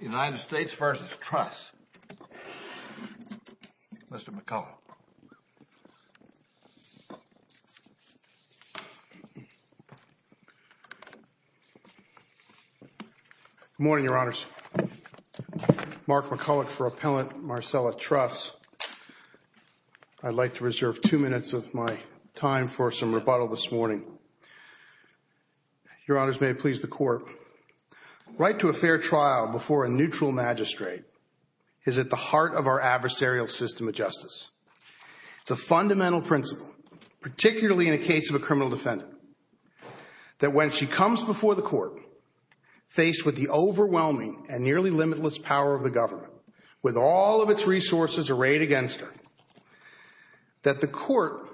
Good morning, Your Honors. Mark McCulloch for Appellant Marcella Truss. I'd like to reserve two minutes of my time for some rebuttal this morning. Your Honors, may it please the Right to a fair trial before a neutral magistrate is at the heart of our adversarial system of justice. It's a fundamental principle, particularly in a case of a criminal defendant, that when she comes before the court, faced with the overwhelming and nearly limitless power of the government, with all of its resources arrayed against her, that the court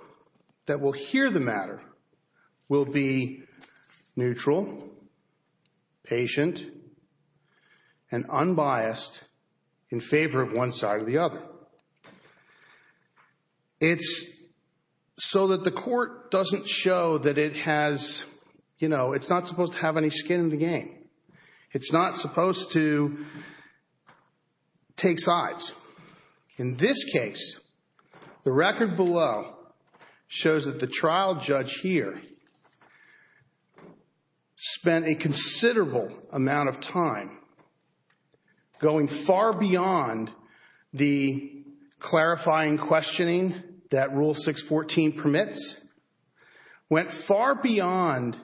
that will hear the matter will be neutral, patient, and unbiased in favor of one side or the other. It's so that the court doesn't show that it has, you know, it's not supposed to have any skin in the game. It's not supposed to take sides. In this case, the record below shows that the trial judge here spent a considerable amount of time going far beyond the clarifying questioning that Rule 614 permits, went far beyond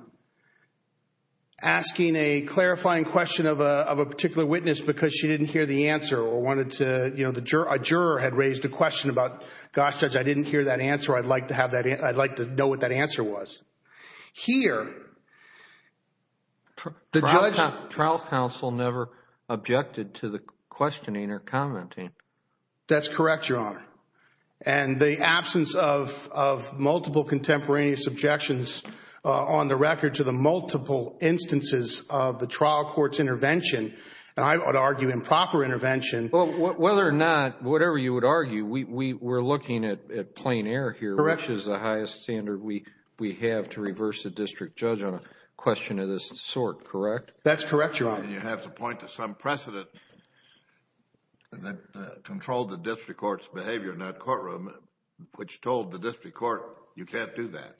asking a clarifying question of a particular witness because she didn't hear the answer or wanted to, you know, a juror had raised a question about, gosh, Judge, I didn't hear that answer. I'd like to have that, I'd like to know what that answer was. Here, the judge... Trial counsel never objected to the questioning or commenting. That's correct, Your Honor. And the absence of multiple contemporaneous objections on the record to the multiple instances of the trial court's intervention, and I would argue improper intervention... Whether or not, whatever you would argue, we're looking at plain air here, which is the highest standard we have to reverse a district judge on a question of this sort, correct? That's correct, Your Honor. You have to point to some precedent that controlled the district court's behavior in that courtroom, which told the district court, you can't do that.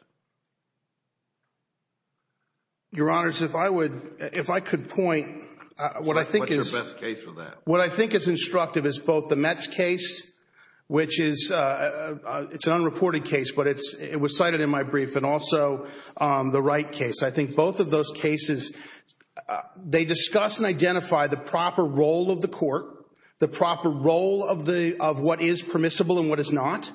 Your Honors, if I would, if I could point, what I think is... What's your best case for that? What I think is instructive is both the Metz case, which is an unreported case, but it was cited in my brief, and also the Wright case. I think both of those cases, they discuss and identify the proper role of the court, the proper role of what is permissible and what is not,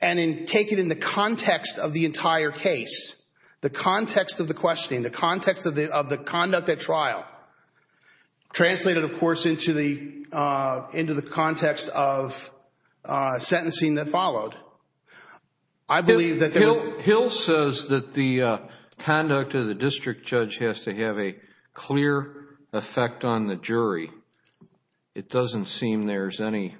and take it in the context of the entire case, the context of the questioning, the context of the conduct at trial, translated, of course, into the context of sentencing that followed. I believe that there was... Hill says that the conduct of the district judge has to have a clear effect on the jury. It doesn't seem there's any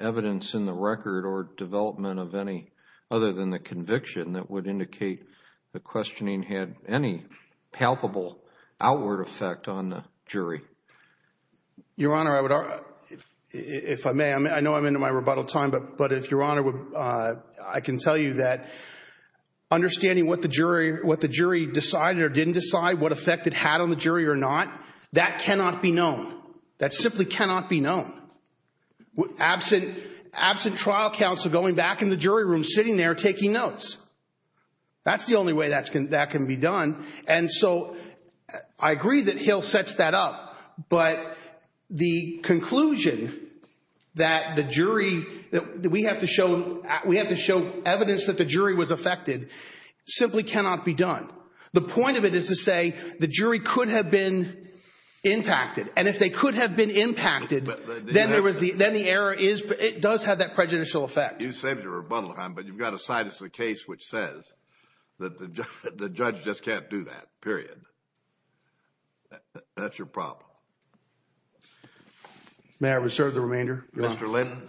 evidence in the record or development of any other than the palpable outward effect on the jury. Your Honor, I would... If I may, I know I'm into my rebuttal time, but if Your Honor, I can tell you that understanding what the jury decided or didn't decide, what effect it had on the jury or not, that cannot be known. That simply cannot be known. Absent trial counsel going back in the jury room, sitting there, taking notes. That's the only way that can be done. And so I agree that Hill sets that up, but the conclusion that the jury... We have to show evidence that the jury was affected, simply cannot be done. The point of it is to say the jury could have been impacted. And if they could have been impacted, then the error is... It does have that prejudicial effect. You saved your rebuttal time, but you've got to cite as a case which says that the judge just can't do that, period. That's your problem. May I reserve the remainder, Your Honor? Mr. Linton.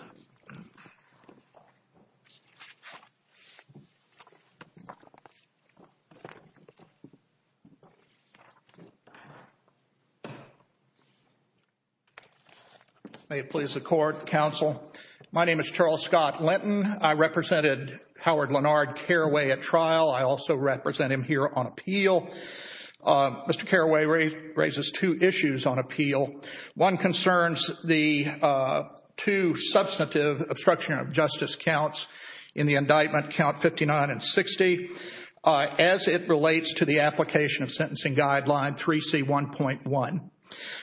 May it please the court, counsel. My name is Charles Scott Linton. I represented Howard Lennard Carraway at trial. I also represent him here on appeal. Mr. Carraway raises two issues on appeal. One concerns the two substantive obstruction of justice counts in the indictment, count 59 and 60, as it relates to the application of sentencing guideline 3C1.1.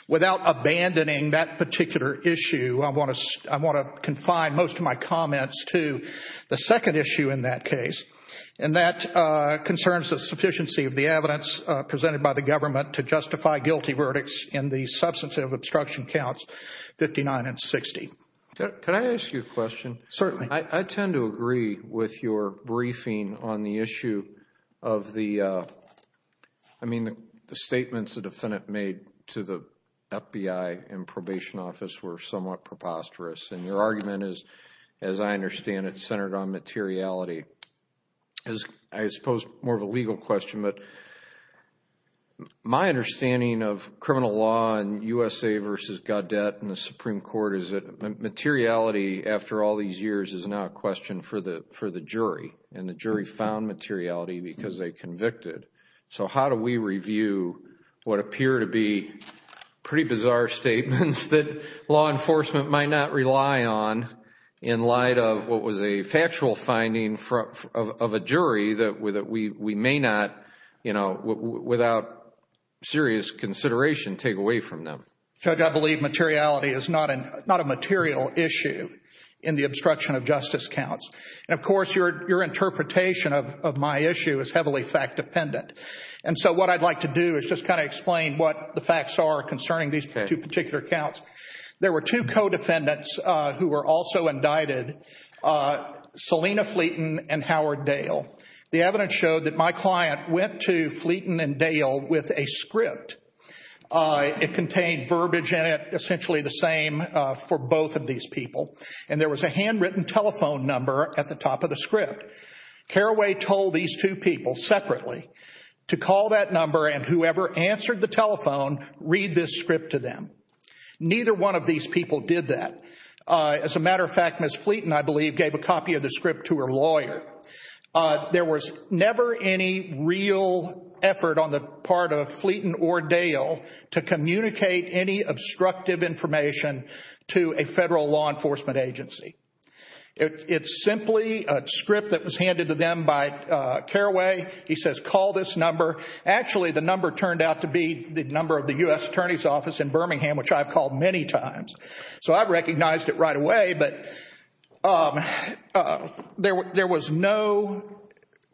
Without abandoning that particular issue, I want to confine most of my comments to the second issue in that case, and that concerns the sufficiency of the evidence presented by the government to justify guilty verdicts in the substantive obstruction counts 59 and 60. Can I ask you a question? Certainly. I tend to agree with your briefing on the issue of the... I mean, the statements the defendant made to the FBI in probation office were somewhat preposterous and your argument is, as I understand it, centered on materiality. I suppose more of a legal question, but my understanding of criminal law in USA v. Gaudet and the Supreme Court is that materiality, after all these years, is now a question for the jury and the jury found materiality because they convicted. So how do we review what appear to be pretty bizarre statements that law enforcement might not rely on in light of what was a factual finding of a jury that we may not, you know, without serious consideration, take away from them? Judge, I believe materiality is not a material issue in the obstruction of justice counts. And of course, your interpretation of my issue is heavily fact-dependent. And so what I'd like to do is just kind of explain what the facts are concerning these two particular counts. There were two co-defendants who were also indicted, Selena Fleeton and Howard Dale. The evidence showed that my client went to Fleeton and Dale with a script. It contained verbiage in it, essentially the same for both of these people. And there was a handwritten telephone number at the top of the script. Carraway told these two people separately to call that number and whoever answered the telephone read this script to them. Neither one of these people did that. As a matter of fact, Ms. Fleeton, I believe, gave a copy of the script to her lawyer. There was never any real effort on the part of Fleeton or Dale to communicate any obstructive information to a federal law enforcement agency. It's simply a script that was handed to them by Carraway. He says, call this number. Actually, the number turned out to be the number of the U.S. Attorney's Office in Birmingham, which I've called many times. So I recognized it right away, but there was no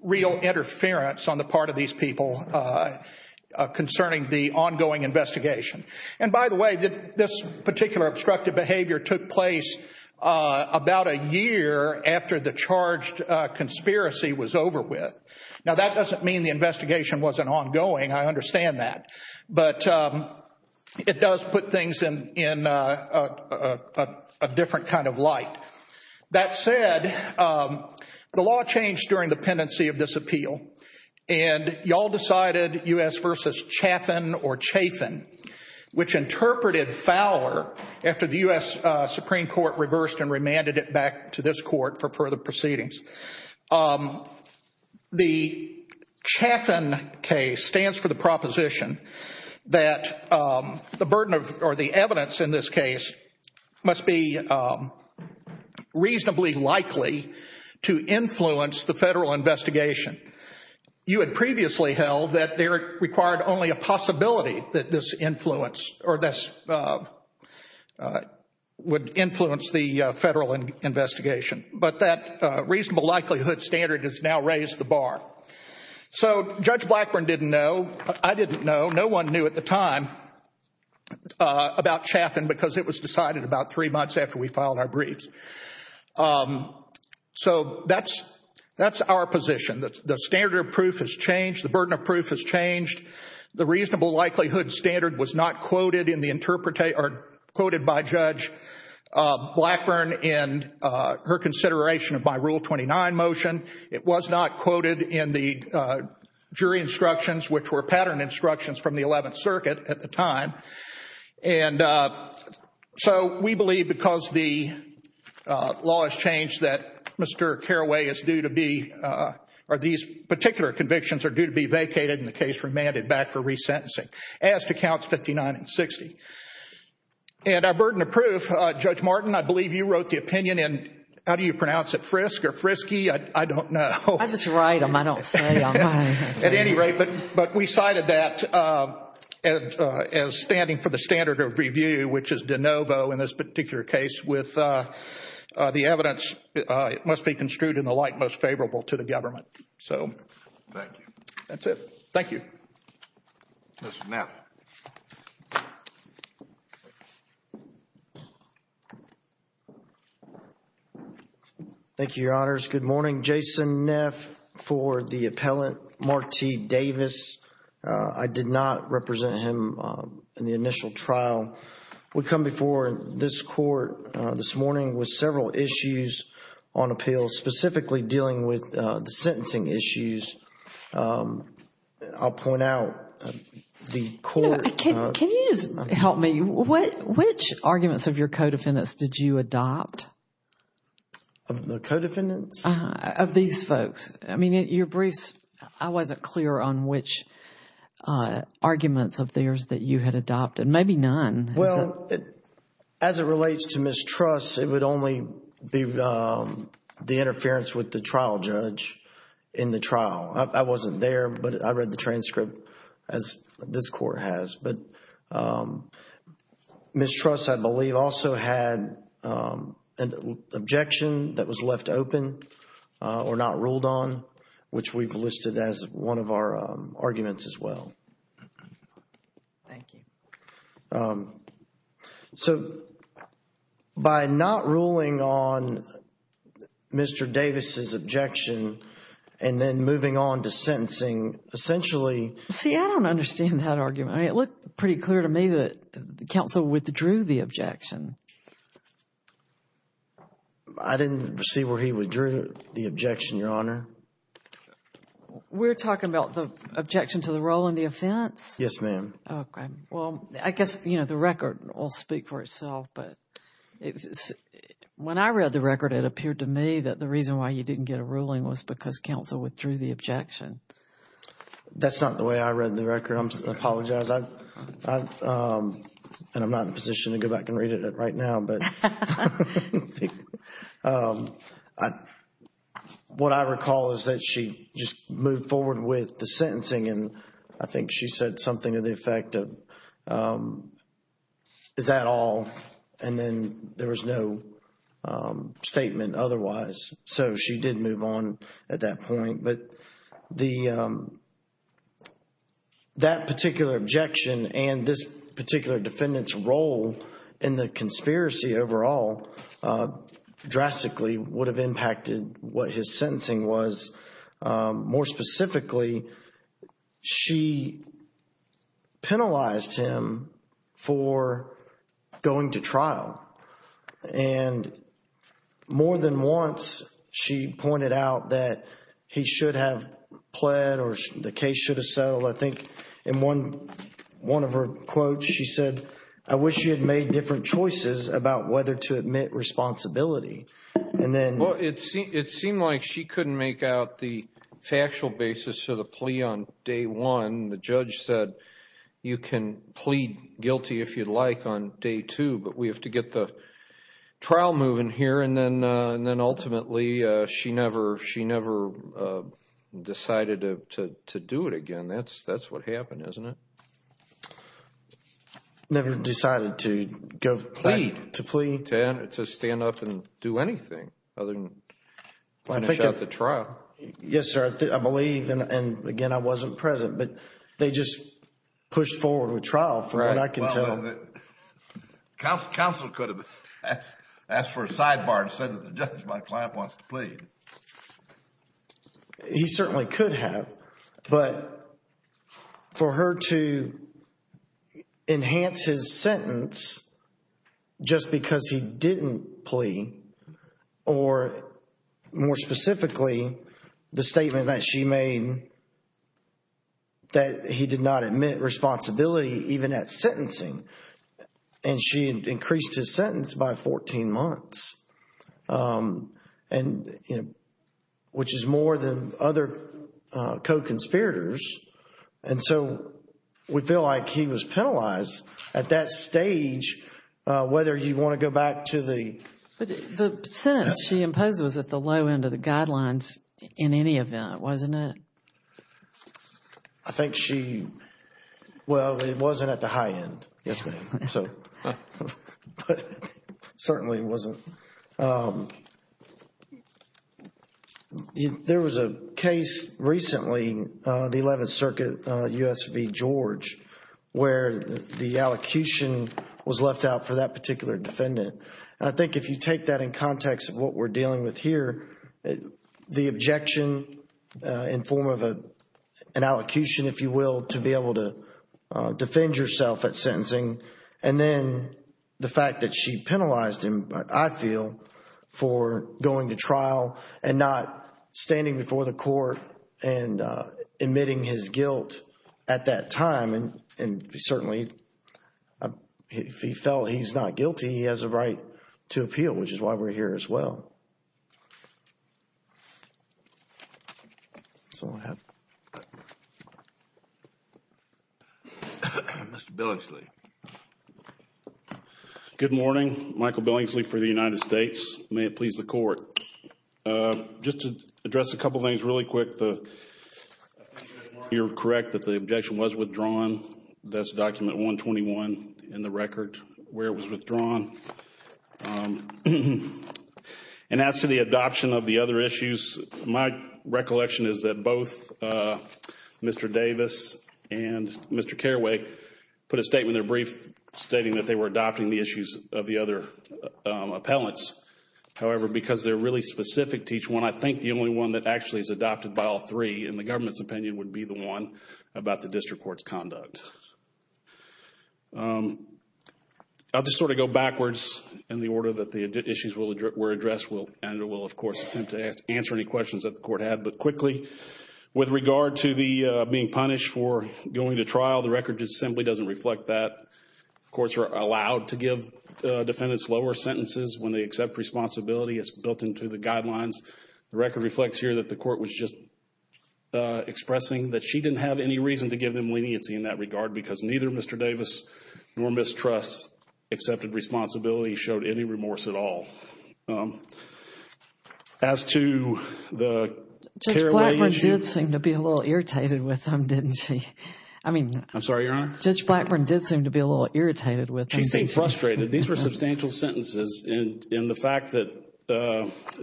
real interference on the part of these people concerning the ongoing investigation. And by the way, this particular obstructive behavior took place about a year after the charged conspiracy was over with. Now, that doesn't mean the investigation wasn't ongoing. I understand that. But it does put things in a different kind of light. That said, the law changed during the pendency of this appeal and y'all decided U.S. versus Chaffin or Chafin, which interpreted Fowler after the U.S. Supreme Court reversed and remanded it back to this court for further proceedings. The Chaffin case stands for the proposition that the burden of or the evidence in this case must be reasonably likely to influence the federal investigation. You had previously held that there required only a possibility that this influence or this would influence the federal investigation. But that reasonable likelihood standard has now raised the bar. So Judge Blackburn didn't know, I didn't know, no one knew at the time about Chaffin because it was decided about three months after we filed our briefs. So that's our position. The standard of proof has changed, the burden of proof has changed, the reasonable likelihood standard was not quoted by Judge Blackburn in her consideration of my Rule 29 motion. It was not quoted in the jury instructions, which were pattern instructions from the Eleventh Circuit at the time. So we believe because the law has changed that Mr. Carraway is due to be, or these particular convictions are due to be vacated and the case remanded back for resentencing. As to counts 59 and 60. And our burden of proof, Judge Martin, I believe you wrote the opinion in, how do you pronounce it, Frisk or Frisky? I don't know. I just write them. I don't say them. At any rate, but we cited that as standing for the standard of review, which is de novo in this particular case with the evidence must be construed in the light most favorable to the government. So. Thank you. That's it. Thank you. Mr. Neff. Thank you, Your Honors. Good morning. Jason Neff for the appellant, Mark T. Davis. I did not represent him in the initial trial. We come before this court this morning with several issues on appeal, specifically dealing with the sentencing issues. I'll point out the court... Can you just help me? Which arguments of your co-defendants did you adopt? The co-defendants? Uh-huh. Of these folks. I mean, your briefs, I wasn't clear on which arguments of theirs that you had adopted. Maybe none. Well, as it relates to mistrust, it would only be the interference with the trial judge in the trial. I wasn't there, but I read the transcript, as this court has, but mistrust I believe also had an objection that was left open or not ruled on, which we've listed as one of our arguments as well. Thank you. So, by not ruling on Mr. Davis' objection and then moving on to sentencing, essentially... See, I don't understand that argument. I mean, it looked pretty clear to me that the counsel withdrew the objection. I didn't see where he withdrew the objection, Your Honor. We're talking about the objection to the role and the offense? Yes, ma'am. Okay. Well, I guess the record will speak for itself, but when I read the record, it appeared to me that the reason why you didn't get a ruling was because counsel withdrew the objection. That's not the way I read the record. I apologize. And I'm not in a position to go back and read it right now, but what I recall is that she just moved forward with the sentencing and I think she said something to the effect of, is that all? And then there was no statement otherwise. So she did move on at that point, but that particular objection and this particular defendant's role in the conspiracy overall drastically would have impacted what his sentencing was. More specifically, she penalized him for going to trial. And more than once, she pointed out that he should have pled or the case should have settled. I think in one of her quotes, she said, I wish you had made different choices about whether to admit responsibility. And then... Well, it seemed like she couldn't make out the factual basis of the plea on day one. The judge said, you can plead guilty if you'd like on day two, but we have to get the trial moving here. And then ultimately, she never decided to do it again. That's what happened, isn't it? Never decided to go plead. To stand up and do anything other than finish out the trial. Yes, sir. I believe, and again, I wasn't present, but they just pushed forward with trial from what I can tell. Right. Well, counsel could have asked for a sidebar and said that the judge might want to plead. He certainly could have. But for her to enhance his sentence just because he didn't plea or more specifically, the statement that she made that he did not admit responsibility even at sentencing. And she increased his sentence by 14 months. And, you know, which is more than other co-conspirators. And so, we feel like he was penalized at that stage, whether you want to go back to the... But the sentence she imposed was at the low end of the guidelines in any event, wasn't it? I think she... well, it wasn't at the high end. Yes, ma'am. So... but certainly it wasn't. There was a case recently, the 11th Circuit, U.S. v. George, where the allocution was left out for that particular defendant. I think if you take that in context of what we're dealing with here, the objection in terms of an allocution, if you will, to be able to defend yourself at sentencing. And then the fact that she penalized him, I feel, for going to trial and not standing before the court and admitting his guilt at that time. And certainly, if he felt he's not guilty, he has a right to appeal, which is why we're here as well. So, I have... Mr. Billingsley. Good morning. Michael Billingsley for the United States. May it please the Court. Just to address a couple of things really quick. You're correct that the objection was withdrawn. That's document 121 in the record where it was withdrawn. And as to the adoption of the other issues, my recollection is that both Mr. Davis and Mr. Carraway put a statement in their brief stating that they were adopting the issues of the other appellants. However, because they're really specific to each one, I think the only one that actually is adopted by all three, in the government's opinion, would be the one about the district court's conduct. I'll just sort of go backwards in the order that the issues were addressed, and I will, of course, attempt to answer any questions that the court had, but quickly, with regard to the being punished for going to trial, the record just simply doesn't reflect that. Courts are allowed to give defendants lower sentences when they accept responsibility. It's built into the guidelines. The record reflects here that the court was just expressing that she didn't have any reason to give them leniency in that regard, because neither Mr. Davis nor Ms. Truss accepted responsibility, showed any remorse at all. As to the Carraway issue. Judge Blackburn did seem to be a little irritated with them, didn't she? I'm sorry, Your Honor? Judge Blackburn did seem to be a little irritated with them. She seemed frustrated. These were substantial sentences, and the fact that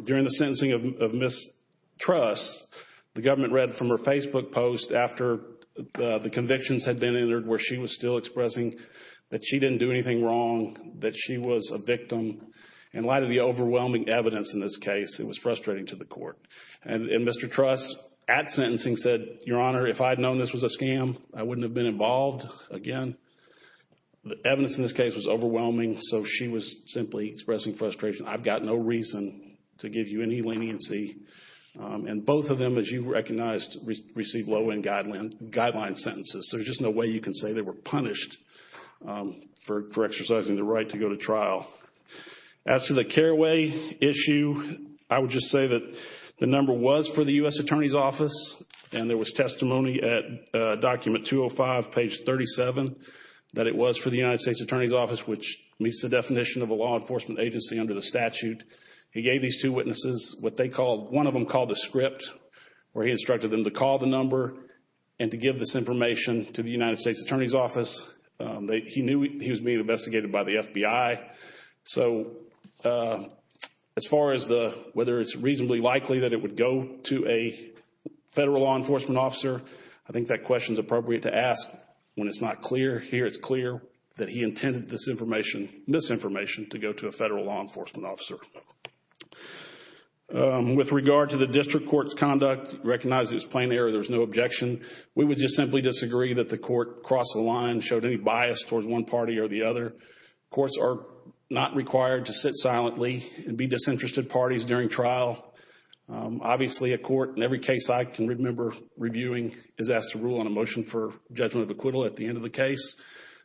during the sentencing of Ms. Truss, the government read from her Facebook post, after the convictions had been entered, where she was still expressing that she didn't do anything wrong, that she was a victim. In light of the overwhelming evidence in this case, it was frustrating to the court. And Mr. Truss, at sentencing, said, Your Honor, if I had known this was a scam, I wouldn't have been involved again. The evidence in this case was overwhelming, so she was simply expressing frustration. I've got no reason to give you any leniency. And both of them, as you recognized, received low-end guideline sentences. There's just no way you can say they were punished for exercising the right to go to trial. As to the Carraway issue, I would just say that the number was for the U.S. Attorney's Office, and there was testimony at document 205, page 37, that it was for the United States Attorney's Office, which meets the definition of a law enforcement agency under the statute. He gave these two witnesses what one of them called a script, where he instructed them to call the number and to give this information to the United States Attorney's Office. He knew he was being investigated by the FBI. So as far as whether it's reasonably likely that it would go to a federal law enforcement officer, I think that question is appropriate to ask when it's not clear. Here it's clear that he intended this information, misinformation, to go to a federal law enforcement officer. With regard to the district court's conduct, recognize it as plain error. There's no objection. We would just simply disagree that the court crossed the line, showed any bias towards one party or the other. Courts are not required to sit silently and be disinterested parties during trial. Obviously a court, in every case I can remember reviewing, is asked to rule on a motion for judgment of acquittal at the end of the case.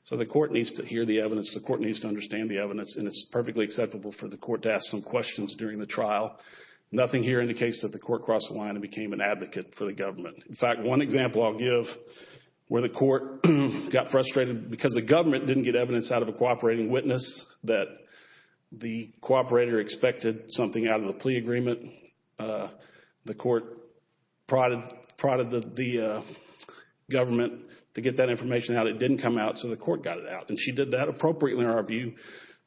So the court needs to hear the evidence. The court needs to understand the evidence, and it's perfectly acceptable for the court to ask some questions during the trial. Nothing here indicates that the court crossed the line and became an advocate for the government. In fact, one example I'll give where the court got frustrated because the government didn't get evidence out of a cooperating witness that the cooperator expected something out of the plea agreement. The court prodded the government to get that information out. It didn't come out, so the court got it out. And she did that appropriately, in our view,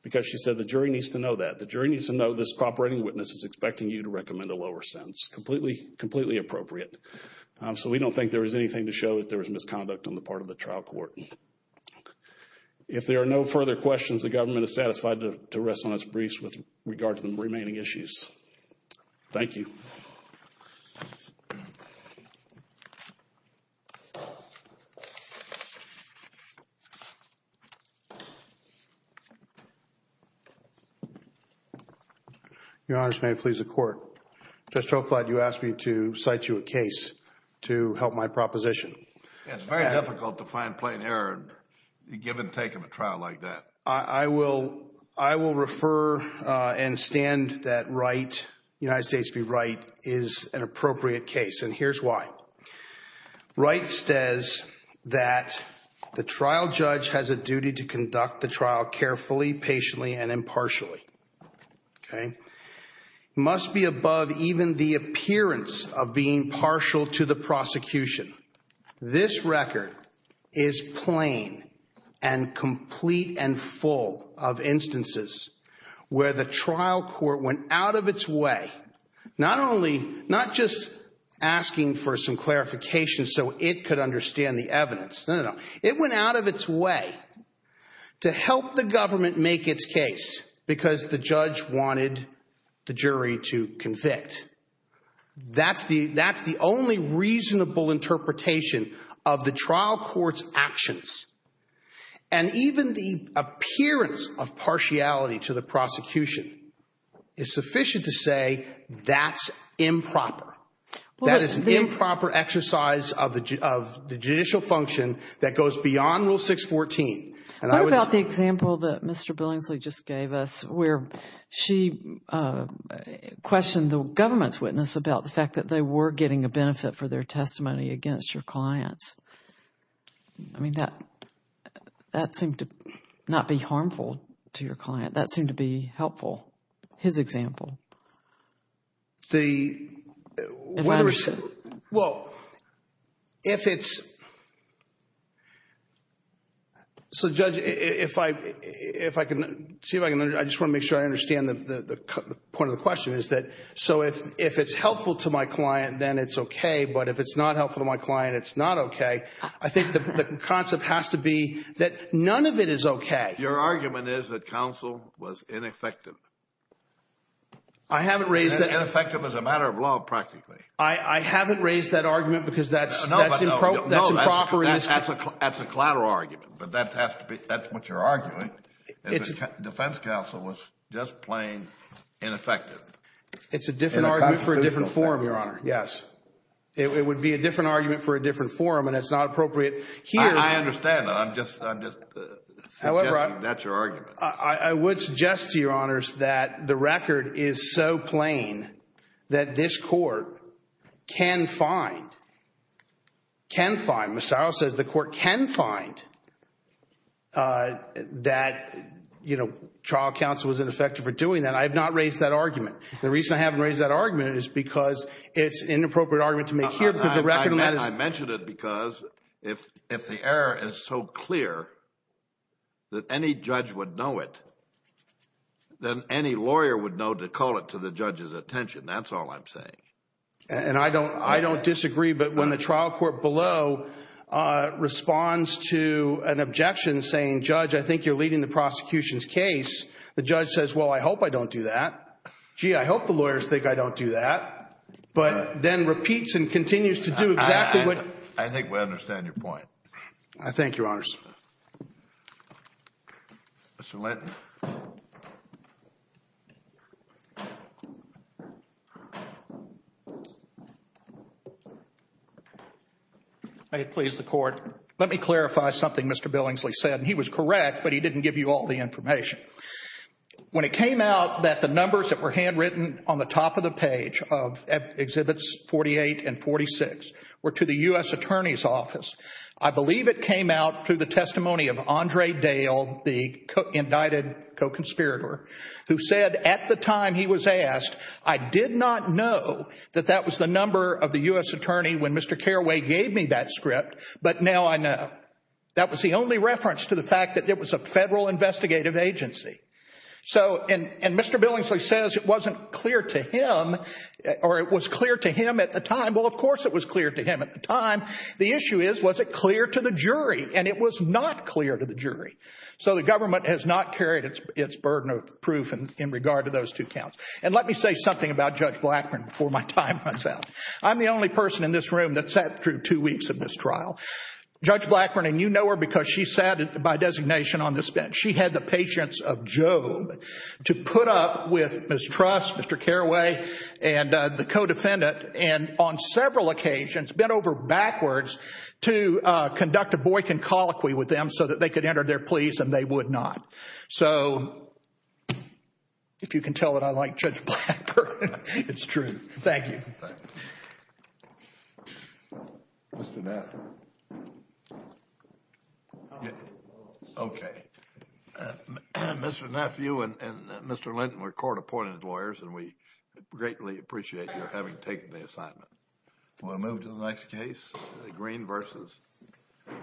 because she said the jury needs to know that. The jury needs to know this cooperating witness is expecting you to recommend a lower sentence. Completely, completely appropriate. So we don't think there was anything to show that there was misconduct on the part of the trial court. If there are no further questions, the government is satisfied to rest on its briefs with regard to the remaining issues. Thank you. Your Honor, may it please the Court. Judge Troglod, you asked me to cite you a case to help my proposition. It's very difficult to find plain error in the give and take of a trial like that. I will refer and stand that Wright, United States v. Wright, is an appropriate case, and here's why. Wright says that the trial judge has a duty to conduct the trial carefully, patiently, and impartially. It must be above even the appearance of being partial to the prosecution. This record is plain and complete and full of instances where the trial court went out of its way, not just asking for some clarification so it could understand the evidence. It went out of its way to help the government make its case because the judge wanted the jury to convict. That's the only reasonable interpretation of the trial court's actions. Even the appearance of partiality to the prosecution is sufficient to say that's improper. That is an improper exercise of the judicial function that goes beyond Rule 614. What about the example that Mr. Billingsley just gave us where she questioned the government's witness about the fact that they were getting a benefit for their testimony against your clients? I mean, that seemed to not be harmful to your client. That seemed to be helpful, his example. The... Well, if it's... So Judge, if I can... I just want to make sure I understand the point of the question is that, so if it's helpful to my client, then it's okay, but if it's not helpful to my client, it's not okay. I think the concept has to be that none of it is okay. Your argument is that counsel was ineffective. I haven't raised that... Ineffective as a matter of law, practically. I haven't raised that argument because that's... No, but...... that's improper... No, that's a collateral argument, but that has to be... that's what you're arguing. Defense counsel was just plain ineffective. It's a different argument for a different forum, Your Honor, yes. It would be a different argument for a different forum, and it's not appropriate here... I understand. I'm just suggesting that's your argument. I would suggest to Your Honors that the record is so plain that this court can find... can find... Ms. Searle says the court can find that, you know, trial counsel was ineffective for doing that. I have not raised that argument. The reason I haven't raised that argument is because it's an inappropriate argument to make here because the record... I mentioned it because if the error is so clear that any judge would know it, then any lawyer would know to call it to the judge's attention. That's all I'm saying. And I don't disagree, but when the trial court below responds to an objection saying, Judge, I think you're leading the prosecution's case, the judge says, well, I hope I don't do that. Gee, I hope the lawyers think I don't do that, but then repeats and continues to do exactly what... I think we understand your point. I thank Your Honors. Mr. Linton. May it please the Court. Let me clarify something Mr. Billingsley said, and he was correct, but he didn't give you all the information. When it came out that the numbers that were handwritten on the top of the page of Exhibits 48 and 46 were to the U.S. Attorney's Office, I believe it came out through the testimony of Andre Dale, the indicted co-conspirator, who said at the time he was asked, I did not know that that was the number of the U.S. Attorney when Mr. Carraway gave me that script, but now I know. That was the only reference to the fact that it was a federal investigative agency. So and Mr. Billingsley says it wasn't clear to him, or it was clear to him at the time. Well, of course it was clear to him at the time. The issue is, was it clear to the jury? And it was not clear to the jury. So the government has not carried its burden of proof in regard to those two counts. And let me say something about Judge Blackburn before my time runs out. I'm the only person in this room that sat through two weeks of this trial. Judge Blackburn, and you know her because she sat by designation on this bench, she had the patience of Job to put up with mistrust, Mr. Carraway and the co-defendant, and on several occasions bent over backwards to conduct a Boykin colloquy with them so that they could enter their pleas and they would not. So if you can tell that I like Judge Blackburn, it's true. Thank you. Thank you. Mr. Neff. Okay. Mr. Neff, you and Mr. Linton were court-appointed lawyers and we greatly appreciate your having taken the assignment. We'll move to the next case. The Green v.